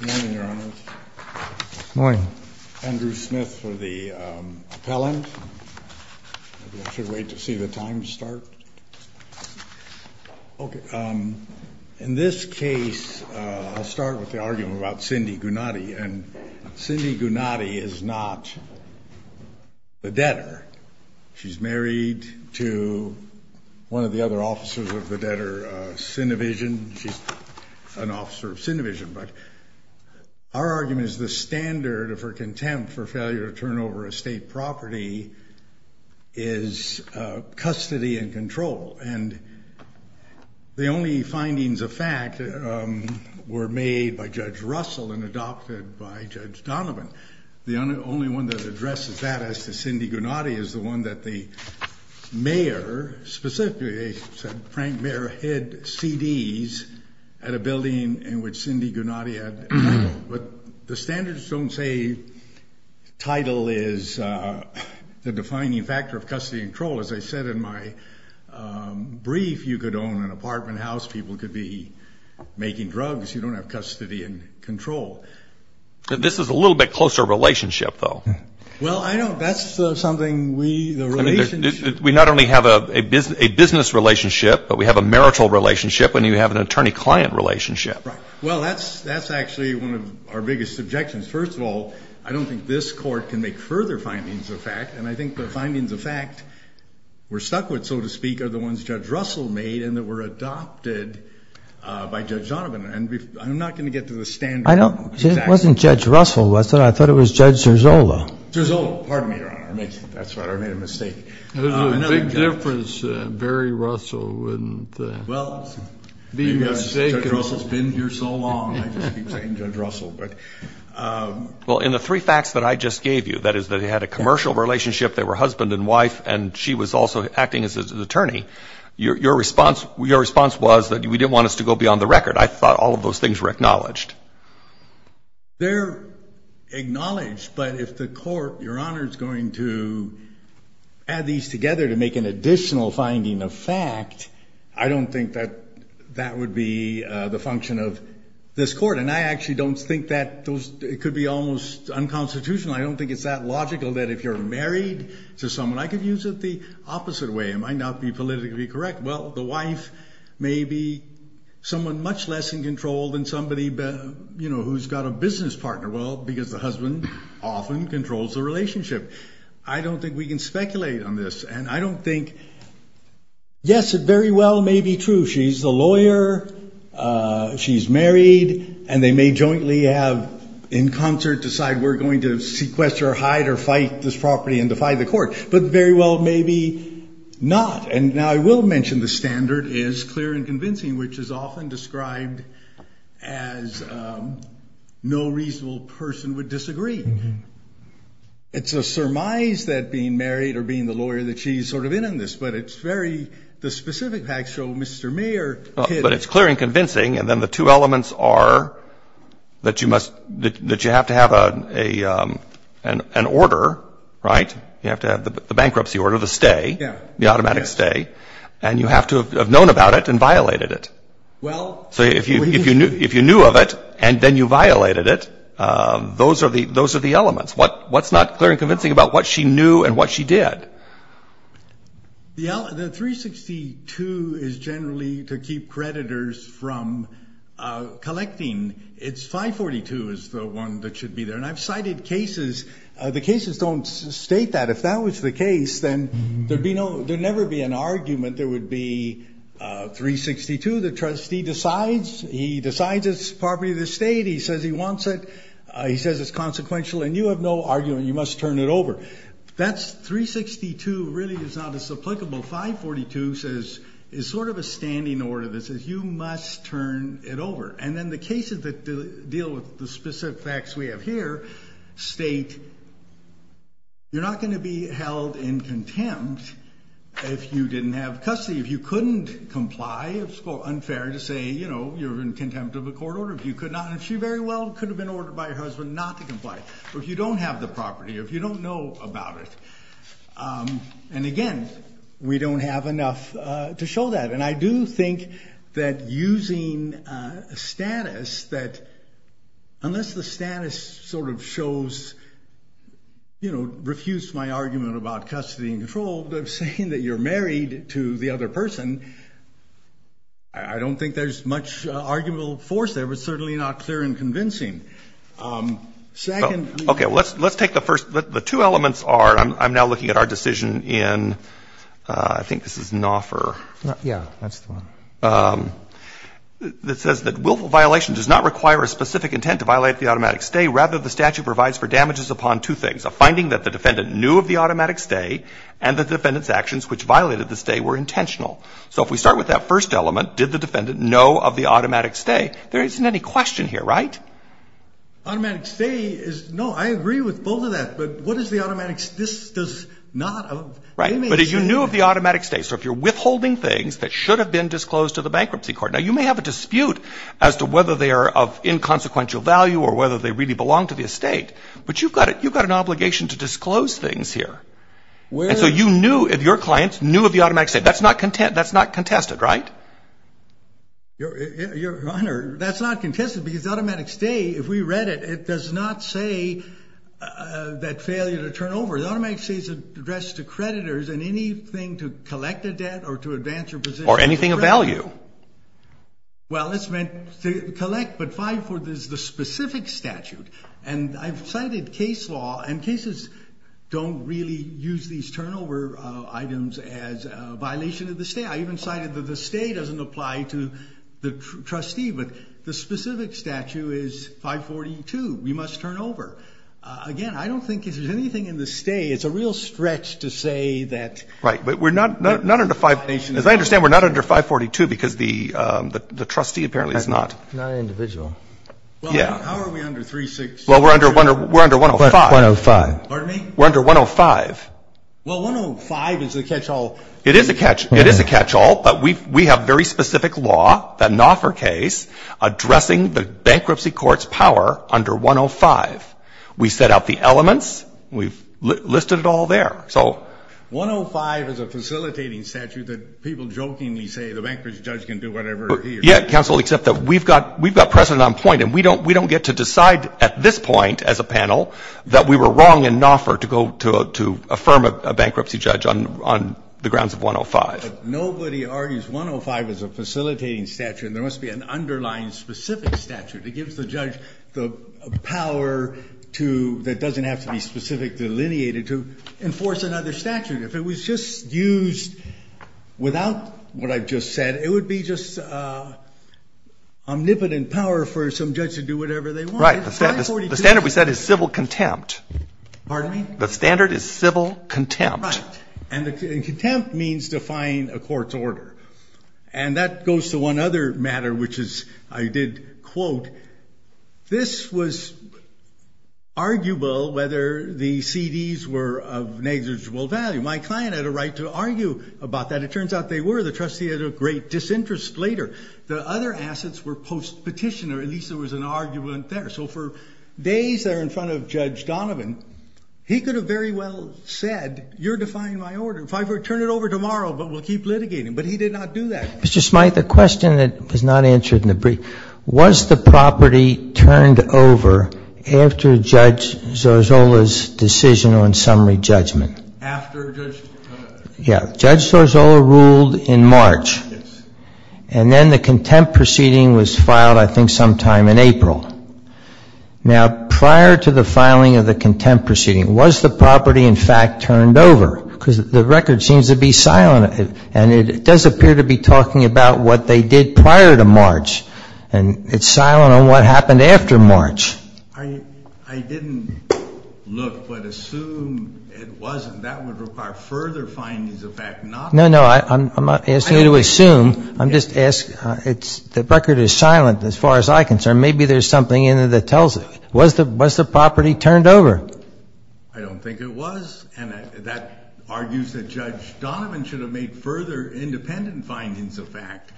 Good morning, Your Honor. Andrew Smith for the appellant. I should wait to see the time start. In this case, I'll start with the argument about Cindy Gunati. Cindy Gunati is not the debtor. She's married to one of the other officers of the debtor, Cinevision. She's an officer of Cinevision. But our argument is the standard of her contempt for failure to turn over estate property is custody and control. And the only findings of fact were made by Judge Russell and adopted by Judge Donovan. The only one that addresses that as to Cindy Gunati is the one that the mayor, specifically Frank Mayer, hid CDs at a building in which Cindy Gunati had. But the standards don't say title is the defining factor of custody and control. As I said in my brief, you could own an apartment house. People could be making drugs. You don't have custody and control. This is a little bit closer relationship, though. We not only have a business relationship, but we have a marital relationship and you have an attorney-client relationship. Well, that's actually one of our biggest objections. First of all, I don't think this court can make further findings of fact. And I think the findings of fact we're stuck with, so to speak, are the ones Judge Russell made and that were adopted by Judge Donovan. And I'm not going to get to the standard. It wasn't Judge Russell, was it? I thought it was Judge Serzola. Serzola. Pardon me, Your Honor. That's right. I made a mistake. There's a big difference, Barry Russell. Well, Judge Russell's been here so long. I just keep saying Judge Russell. Well, in the three facts that I just gave you, that is that he had a commercial relationship, they were husband and wife, and she was also acting as his attorney, your response was that we didn't want this to go beyond the record. I thought all of those things were acknowledged. They're acknowledged, but if the court, Your Honor, is going to add these together to make an additional finding of fact, I don't think that that would be the function of this court. And I actually don't think that those could be almost unconstitutional. I don't think it's that logical that if you're married to someone, I could use it the opposite way. It might not be politically correct. Well, the wife may be someone much less in control than somebody, you know, who's got a business partner. Well, because the husband often controls the relationship. I don't think we can speculate on this, and I don't think, yes, it very well may be true she's the lawyer, she's married, and they may jointly have in concert decide we're going to sequester, hide, or fight this property and defy the court, but very well maybe not. And now I will mention the standard is clear and convincing, which is often described as no reasonable person would disagree. It's a surmise that being married or being the lawyer that she's sort of in on this, but it's very the specific facts show Mr. Mayer hid it. But it's clear and convincing, and then the two elements are that you must – that you have to have an order, right? You have to have the bankruptcy order, the stay, the automatic stay, and you have to have known about it and violated it. So if you knew of it and then you violated it, those are the elements. What's not clear and convincing about what she knew and what she did? The 362 is generally to keep creditors from collecting. It's 542 is the one that should be there. And I've cited cases. The cases don't state that. If that was the case, then there'd be no – there'd never be an argument. There would be 362. The trustee decides. He decides it's property of the state. He says he wants it. He says it's consequential, and you have no argument. You must turn it over. That's – 362 really is not as applicable. 542 says – is sort of a standing order that says you must turn it over. And then the cases that deal with the specific facts we have here state you're not going to be held in contempt if you didn't have custody. If you couldn't comply, it's unfair to say, you know, you're in contempt of a court order. If you could not – and if she very well could have been ordered by her husband not to comply. But if you don't have the property or if you don't know about it – and, again, we don't have enough to show that. And I do think that using a status that – unless the status sort of shows, you know, refuse my argument about custody and control, but saying that you're married to the other person, I don't think there's much arguable force there. It's certainly not clear and convincing. Second – Okay. Well, let's take the first – the two elements are – I'm now looking at our decision in – I think this is Naufer. Yeah. That's the one. That says that willful violation does not require a specific intent to violate the automatic stay, rather the statute provides for damages upon two things, a finding that the defendant knew of the automatic stay and that the defendant's actions which violated the stay were intentional. So if we start with that first element, did the defendant know of the automatic stay, there isn't any question here, right? Automatic stay is – no, I agree with both of that. But what is the automatic – this does not – Right. But you knew of the automatic stay. So if you're withholding things that should have been disclosed to the bankruptcy court. Now, you may have a dispute as to whether they are of inconsequential value or whether they really belong to the estate, but you've got an obligation to disclose things here. Where – And so you knew if your client knew of the automatic stay. That's not contested, right? Your Honor, that's not contested because automatic stay, if we read it, it does not say that failure to turn over. Automatic stay is addressed to creditors and anything to collect a debt or to advance your position – Or anything of value. Well, it's meant to collect, but 544 is the specific statute. And I've cited case law, and cases don't really use these turnover items as a violation of the stay. I even cited that the stay doesn't apply to the trustee, but the specific statute is 542. We must turn over. Again, I don't think if there's anything in the stay, it's a real stretch to say that – Right. But we're not under 5 – As I understand, we're not under 542 because the trustee apparently is not. Not an individual. Yeah. Well, how are we under 36 – Well, we're under 105. 105. Pardon me? We're under 105. Well, 105 is the catch-all. It is a catch-all, but we have very specific law, the Naufer case, addressing the bankruptcy court's power under 105. We set out the elements. We've listed it all there. So 105 is a facilitating statute that people jokingly say the bankruptcy judge can do whatever he or she wants. Yeah, counsel, except that we've got precedent on point, and we don't get to decide at this point as a panel that we were wrong in Naufer to affirm a bankruptcy judge on the grounds of 105. But nobody argues 105 as a facilitating statute. There must be an underlying specific statute that gives the judge the power to – that doesn't have to be specifically delineated to enforce another statute. If it was just used without what I've just said, it would be just omnipotent power for some judge to do whatever they want. Right. The standard we set is civil contempt. Pardon me? The standard is civil contempt. Right. And contempt means defying a court's order. And that goes to one other matter, which is I did quote, this was arguable whether the CDs were of negligible value. My client had a right to argue about that. It turns out they were. The trustee had a great disinterest later. The other assets were post-petition, or at least there was an argument there. So for days there in front of Judge Donovan, he could have very well said, you're defying my order. If I were to turn it over tomorrow, but we'll keep litigating. But he did not do that. Mr. Smyth, a question that was not answered in the brief. Was the property turned over after Judge Zozzola's decision on summary judgment? After Judge – Yeah. Judge Zozzola ruled in March. Yes. And then the contempt proceeding was filed I think sometime in April. Now, prior to the filing of the contempt proceeding, was the property in fact turned over? Because the record seems to be silent. And it does appear to be talking about what they did prior to March. And it's silent on what happened after March. I didn't look, but assume it wasn't. That would require further findings of fact, not – No, no, I'm not asking you to assume. I'm just asking, the record is silent as far as I'm concerned. Maybe there's something in it that tells it. Was the property turned over? I don't think it was. And that argues that Judge Donovan should have made further independent findings of fact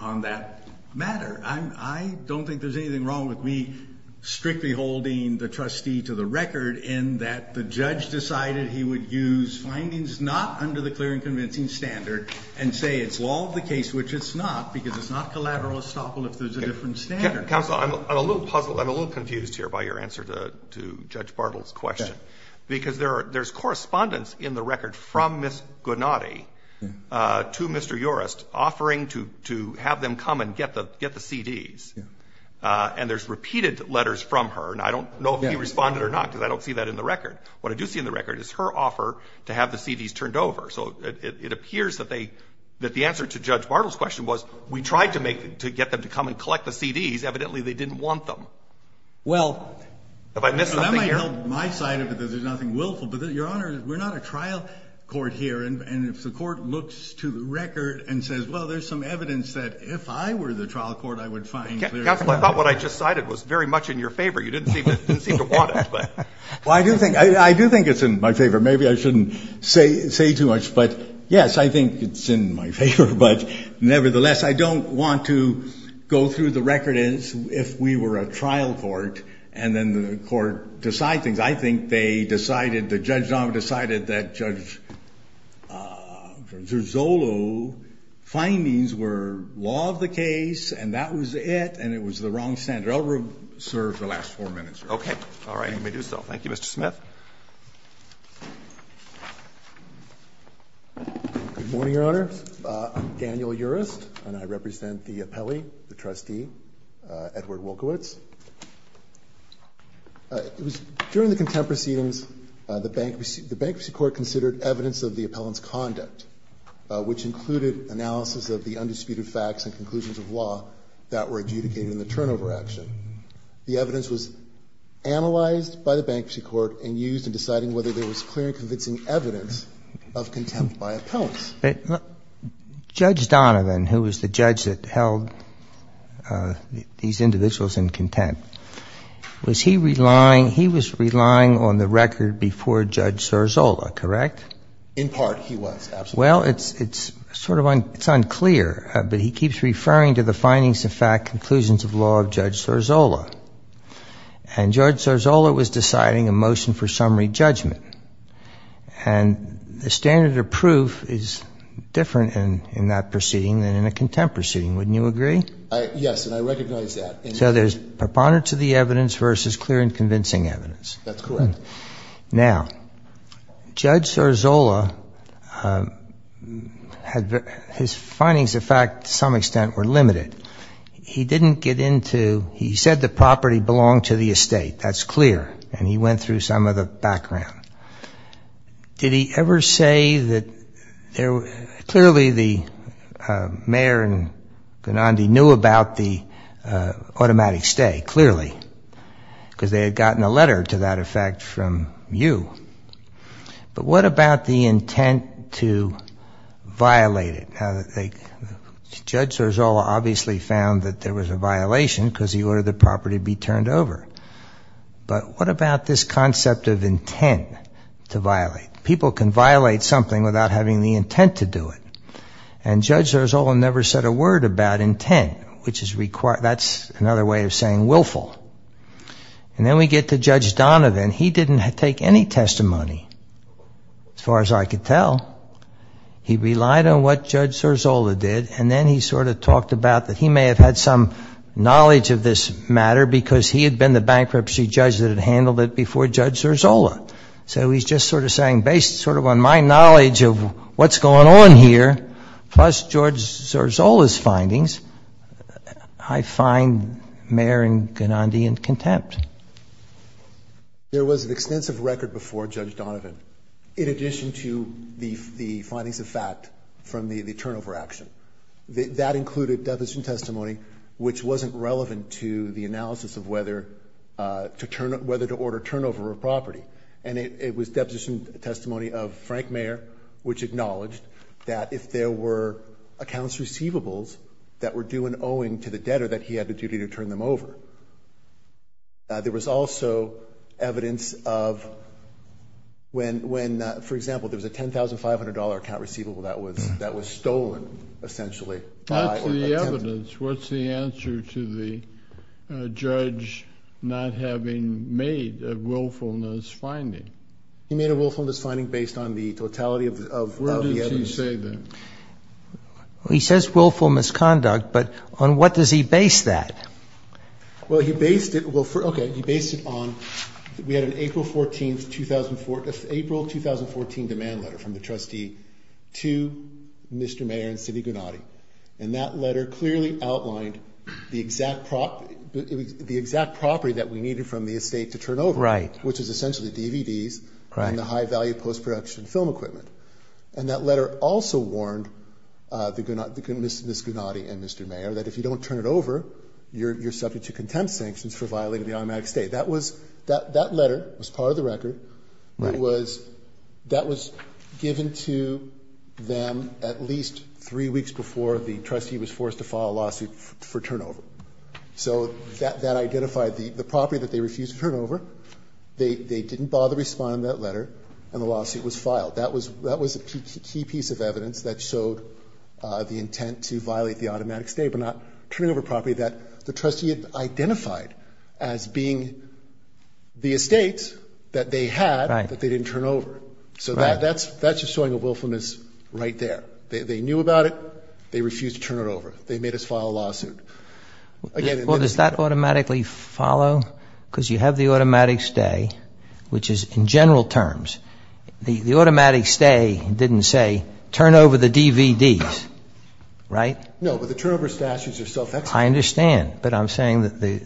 on that matter. I don't think there's anything wrong with me strictly holding the trustee to the record in that the judge decided he would use findings not under the clear and convincing standard and say it's law of the case, which it's not, because it's not collateral estoppel if there's a different standard. Counsel, I'm a little puzzled. I'm a little confused here by your answer to Judge Bartle's question. Okay. Because there's correspondence in the record from Ms. Guarnatti to Mr. Urest offering to have them come and get the CDs. Yeah. And there's repeated letters from her. And I don't know if he responded or not because I don't see that in the record. What I do see in the record is her offer to have the CDs turned over. So it appears that the answer to Judge Bartle's question was we tried to get them to come and collect the CDs. Evidently, they didn't want them. Well, that might help my side of it because there's nothing willful. But, Your Honor, we're not a trial court here. And if the court looks to the record and says, well, there's some evidence that if I were the trial court, I would find clear evidence. Counsel, I thought what I just cited was very much in your favor. You didn't seem to want it. Well, I do think it's in my favor. Maybe I shouldn't say too much. But, yes, I think it's in my favor. But, nevertheless, I don't want to go through the record as if we were a trial court and then the court decide things. I think they decided that Judge Zolo's findings were law of the case and that was it and it was the wrong standard. I'll reserve the last four minutes, Your Honor. Okay. All right. You may do so. Thank you, Mr. Smith. Good morning, Your Honor. I'm Daniel Urest, and I represent the appellee, the trustee, Edward Wolkowicz. During the contempt proceedings, the Bankruptcy Court considered evidence of the appellant's which included analysis of the undisputed facts and conclusions of law that were adjudicated in the turnover action. The evidence was analyzed by the Bankruptcy Court and used in deciding whether there was clear and convincing evidence of contempt by appellants. Judge Donovan, who was the judge that held these individuals in contempt, was he relying he was relying on the record before Judge Zorzolla, correct? In part, he was, absolutely. Well, it's sort of unclear, but he keeps referring to the findings of fact conclusions of law of Judge Zorzolla, and Judge Zorzolla was deciding a motion for summary judgment, and the standard of proof is different in that proceeding than in a contempt proceeding. Wouldn't you agree? Yes, and I recognize that. So there's preponderance of the evidence versus clear and convincing evidence. That's correct. Now, Judge Zorzolla, his findings of fact, to some extent, were limited. He didn't get into, he said the property belonged to the estate. That's clear, and he went through some of the background. Did he ever say that, clearly the mayor and Ganondi knew about the automatic stay, clearly, because they had gotten a letter, to that effect, from you. But what about the intent to violate it? Judge Zorzolla obviously found that there was a violation because he ordered the property be turned over. But what about this concept of intent to violate? People can violate something without having the intent to do it, and Judge Zorzolla never said a word about intent, which is another way of saying willful. And then we get to Judge Donovan. He didn't take any testimony, as far as I could tell. He relied on what Judge Zorzolla did, and then he sort of talked about that he may have had some knowledge of this matter because he had been the bankruptcy judge that had handled it before Judge Zorzolla. So he's just sort of saying, based sort of on my knowledge of what's going on here, plus Judge Zorzolla's findings, I find Mayor Ganondi in contempt. There was an extensive record before Judge Donovan, in addition to the findings of fact from the turnover action. That included deposition testimony, which wasn't relevant to the analysis of whether to order turnover of property. And it was deposition testimony of Frank Mayer, which acknowledged that if there were accounts receivables that were due in owing to the debtor, that he had a duty to turn them over. There was also evidence of when, for example, there was a $10,500 account receivable that was stolen, essentially. That's the evidence. What's the answer to the judge not having made a willfulness finding? He made a willfulness finding based on the totality of the evidence. Where did he say that? He says willful misconduct, but on what does he base that? Well, he based it on, we had an April 2014 demand letter from the trustee to Mr. Mayer and City Ganondi. And that letter clearly outlined the exact property that we needed from the estate to turn over, which is essentially DVDs and the high-value post-production film equipment. And that letter also warned Ms. Ganondi and Mr. Mayer that if you don't turn it over, you're subject to contempt sanctions for violating the automatic stay. That letter was part of the record. That was given to them at least three weeks before the trustee was forced to file a lawsuit for turnover. So that identified the property that they refused to turn over. They didn't bother responding to that letter, and the lawsuit was filed. That was a key piece of evidence that showed the intent to violate the automatic stay but not turn over property that the trustee had identified as being the estate that they had that they didn't turn over. So that's just showing a willfulness right there. They knew about it. They refused to turn it over. They made us file a lawsuit. Well, does that automatically follow? Because you have the automatic stay, which is in general terms. The automatic stay didn't say turn over the DVDs, right? No, but the turnover statutes are self-explanatory. I understand, but I'm saying that the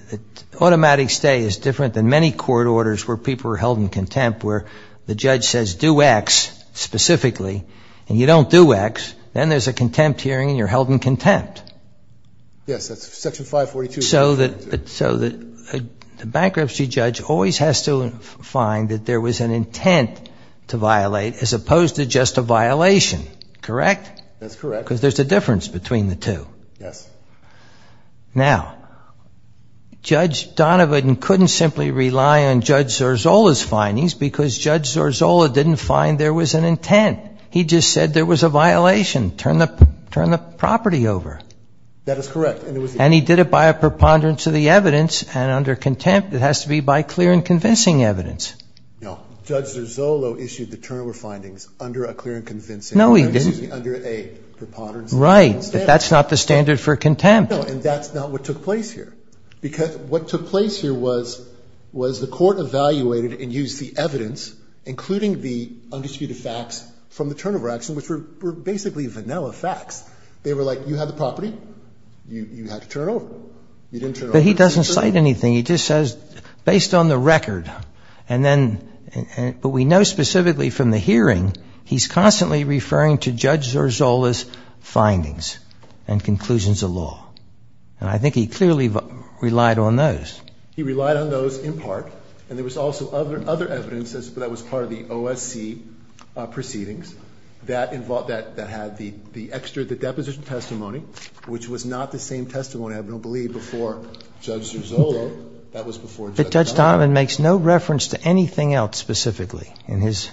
automatic stay is different than many court orders where people are held in contempt, where the judge says do X specifically, and you don't do X. Then there's a contempt hearing and you're held in contempt. Yes, that's Section 542. So the bankruptcy judge always has to find that there was an intent to violate as opposed to just a violation, correct? That's correct. Because there's a difference between the two. Yes. Now, Judge Donovan couldn't simply rely on Judge Zorzola's findings because Judge Zorzola didn't find there was an intent. He just said there was a violation. Turn the property over. That is correct. And he did it by a preponderance of the evidence, and under contempt it has to be by clear and convincing evidence. No, Judge Zorzola issued the turnover findings under a clear and convincing. No, he didn't. Under a preponderance of the evidence. Right, but that's not the standard for contempt. No, and that's not what took place here. Because what took place here was the court evaluated and used the evidence, including the undistributed facts from the turnover action, which were basically vanilla facts. They were like, you had the property, you had to turn it over. You didn't turn it over. But he doesn't cite anything. He just says, based on the record, and then, but we know specifically from the hearing, he's constantly referring to Judge Zorzola's findings and conclusions of law. And I think he clearly relied on those. He relied on those in part. And there was also other evidence that was part of the OSC proceedings that involved, that had the extra, the deposition testimony, which was not the same testimony, I believe, before Judge Zorzola. That was before Judge Donovan. But Judge Donovan makes no reference to anything else specifically in his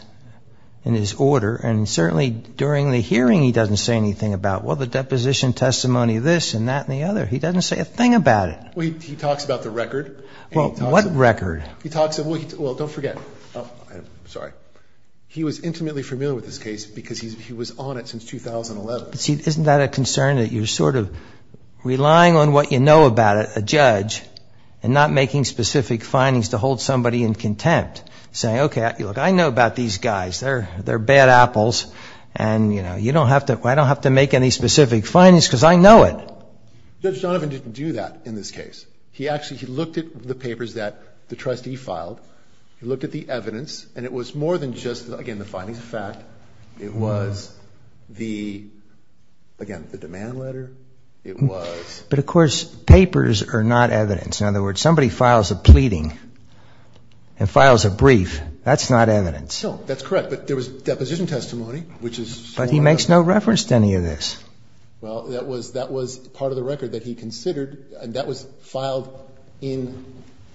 order. And certainly during the hearing, he doesn't say anything about, well, the deposition testimony, this, and that, and the other. He doesn't say a thing about it. Well, he talks about the record. Well, what record? He talks, well, don't forget, sorry. He was intimately familiar with this case because he was on it since 2011. See, isn't that a concern that you're sort of relying on what you know about it, a judge, and not making specific findings to hold somebody in contempt, saying, okay, look, I know about these guys. They're bad apples. And, you know, you don't have to, I don't have to make any specific findings because I know it. Judge Donovan didn't do that in this case. He actually, he looked at the papers that the trustee filed. He looked at the evidence. And it was more than just, again, the findings of fact. It was the, again, the demand letter. It was. But, of course, papers are not evidence. In other words, somebody files a pleading and files a brief. That's not evidence. No, that's correct. But there was deposition testimony, which is. But he makes no reference to any of this. Well, that was, that was part of the record that he considered, and that was filed in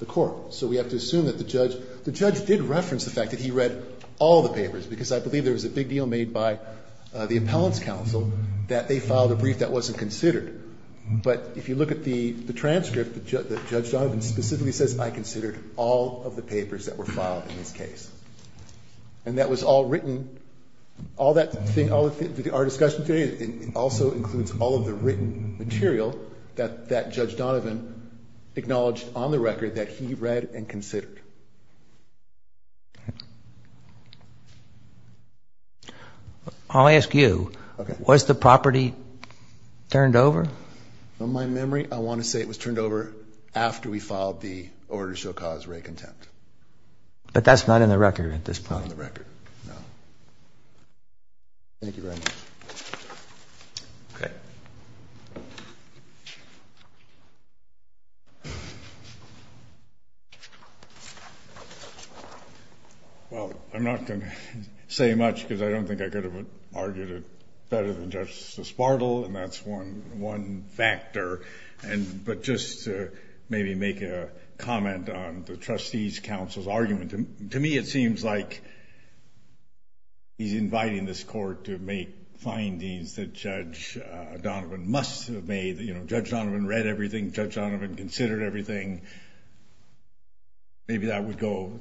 the court. So we have to assume that the judge, the judge did reference the fact that he read all the papers, because I believe there was a big deal made by the appellant's counsel that they filed a brief that wasn't considered. But if you look at the transcript, Judge Donovan specifically says I considered all of the papers that were filed in this case. And that was all written, all that thing, all of our discussion today, it also includes all of the written material that Judge Donovan acknowledged on the record that he read and considered. I'll ask you. Okay. Was the property turned over? From my memory, I want to say it was turned over after we filed the order to show cause for a contempt. But that's not in the record at this point. Not in the record, no. Thank you very much. Okay. Well, I'm not going to say much because I don't think I could have argued it better than Justice Bartle, and that's one, one factor. But just maybe make a comment on the trustee's counsel's argument. To me, it seems like he's inviting this court to make findings that Judge Donovan must have made. You know, Judge Donovan read everything. Judge Donovan considered everything. Maybe that would go,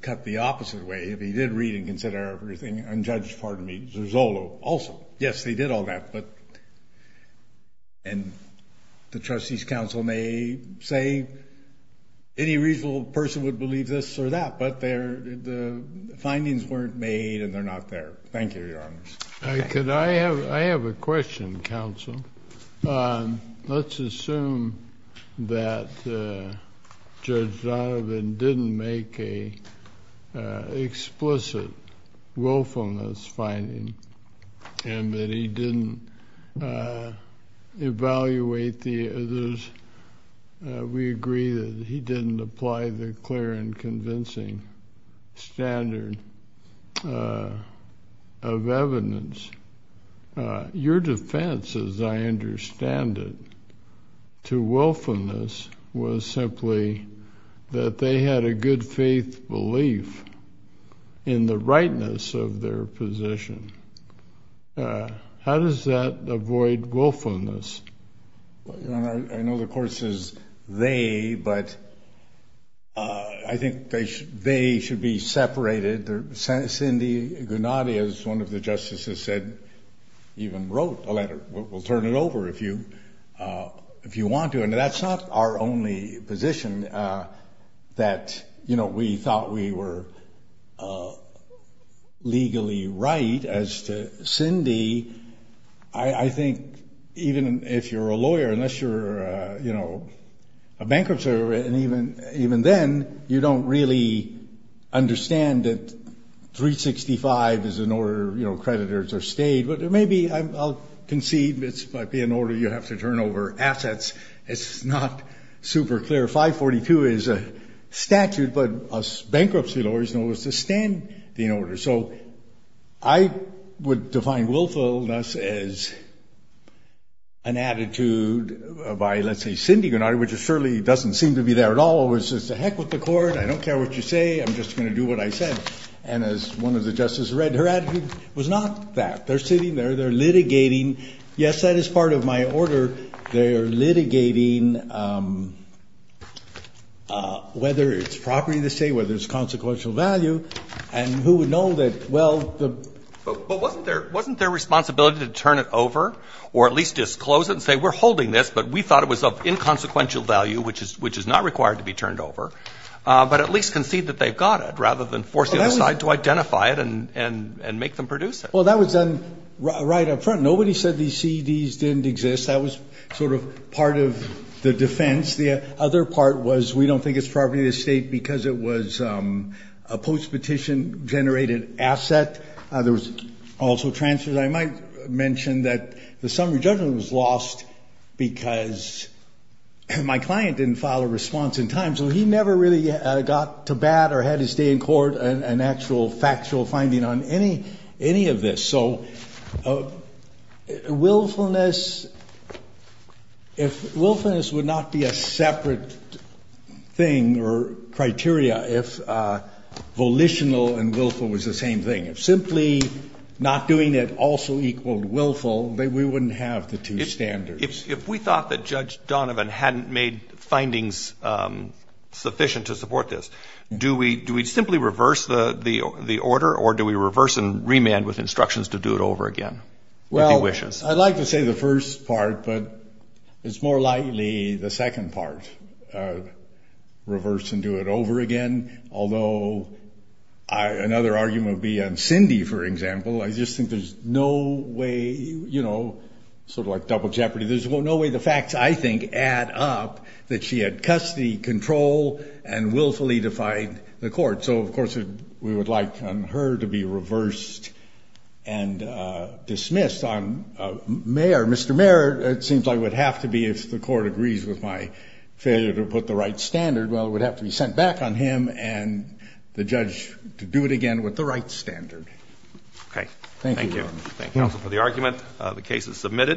cut the opposite way. If he did read and consider everything, and Judge, pardon me, Zersolo also. Yes, they did all that. And the trustee's counsel may say any reasonable person would believe this or that. But the findings weren't made, and they're not there. Thank you, Your Honors. I have a question, counsel. Let's assume that Judge Donovan didn't make an explicit willfulness finding and that he didn't evaluate the others. We agree that he didn't apply the clear and convincing standard of evidence. Your defense, as I understand it, to willfulness was simply that they had a good faith belief in the rightness of their position. How does that avoid willfulness? Your Honor, I know the court says they, but I think they should be separated. Cindy Gennady, as one of the justices said, even wrote a letter. We'll turn it over if you want to. And that's not our only position that, you know, we thought we were legally right as to Cindy. I think even if you're a lawyer, unless you're, you know, a bankruptcy lawyer, and even then, you don't really understand that 365 is an order, you know, creditors are stayed. But there may be, I'll concede, it might be an order you have to turn over assets. It's not super clear. 542 is a statute, but us bankruptcy lawyers know it's a standing order. So I would define willfulness as an attitude by, let's say, Cindy Gennady, which surely doesn't seem to be there at all. It was just a heck with the court. I don't care what you say. I'm just going to do what I said. And as one of the justices read, her attitude was not that. They're sitting there. They're litigating. Yes, that is part of my order. They're litigating whether it's property of the state, whether it's consequential value. And who would know that, well, the ---- But wasn't their responsibility to turn it over or at least disclose it and say we're holding this, but we thought it was of inconsequential value, which is not required to be turned over, but at least concede that they've got it rather than force the other side to identify it and make them produce it? Well, that was done right up front. Nobody said these CEDs didn't exist. That was sort of part of the defense. The other part was we don't think it's property of the state because it was a post-petition generated asset. There was also transfers. I might mention that the summary judgment was lost because my client didn't file a response in time, so he never really got to bat or had to stay in court an actual factual finding on any of this. So willfulness, if willfulness would not be a separate thing or criteria if volitional and willful was the same thing. If simply not doing it also equaled willful, then we wouldn't have the two standards. If we thought that Judge Donovan hadn't made findings sufficient to support this, do we simply reverse the order or do we reverse and remand with instructions to do it over again? Well, I'd like to say the first part, but it's more likely the second part, reverse and do it over again. Although another argument would be on Cindy, for example. I just think there's no way, you know, sort of like double jeopardy. There's no way the facts, I think, add up that she had custody control and willfully defied the court. So, of course, we would like on her to be reversed and dismissed. Mr. Mayor, it seems I would have to be if the court agrees with my failure to put the right standard. Well, it would have to be sent back on him and the judge to do it again with the right standard. Thank you. Thank you, counsel, for the argument. The case is submitted.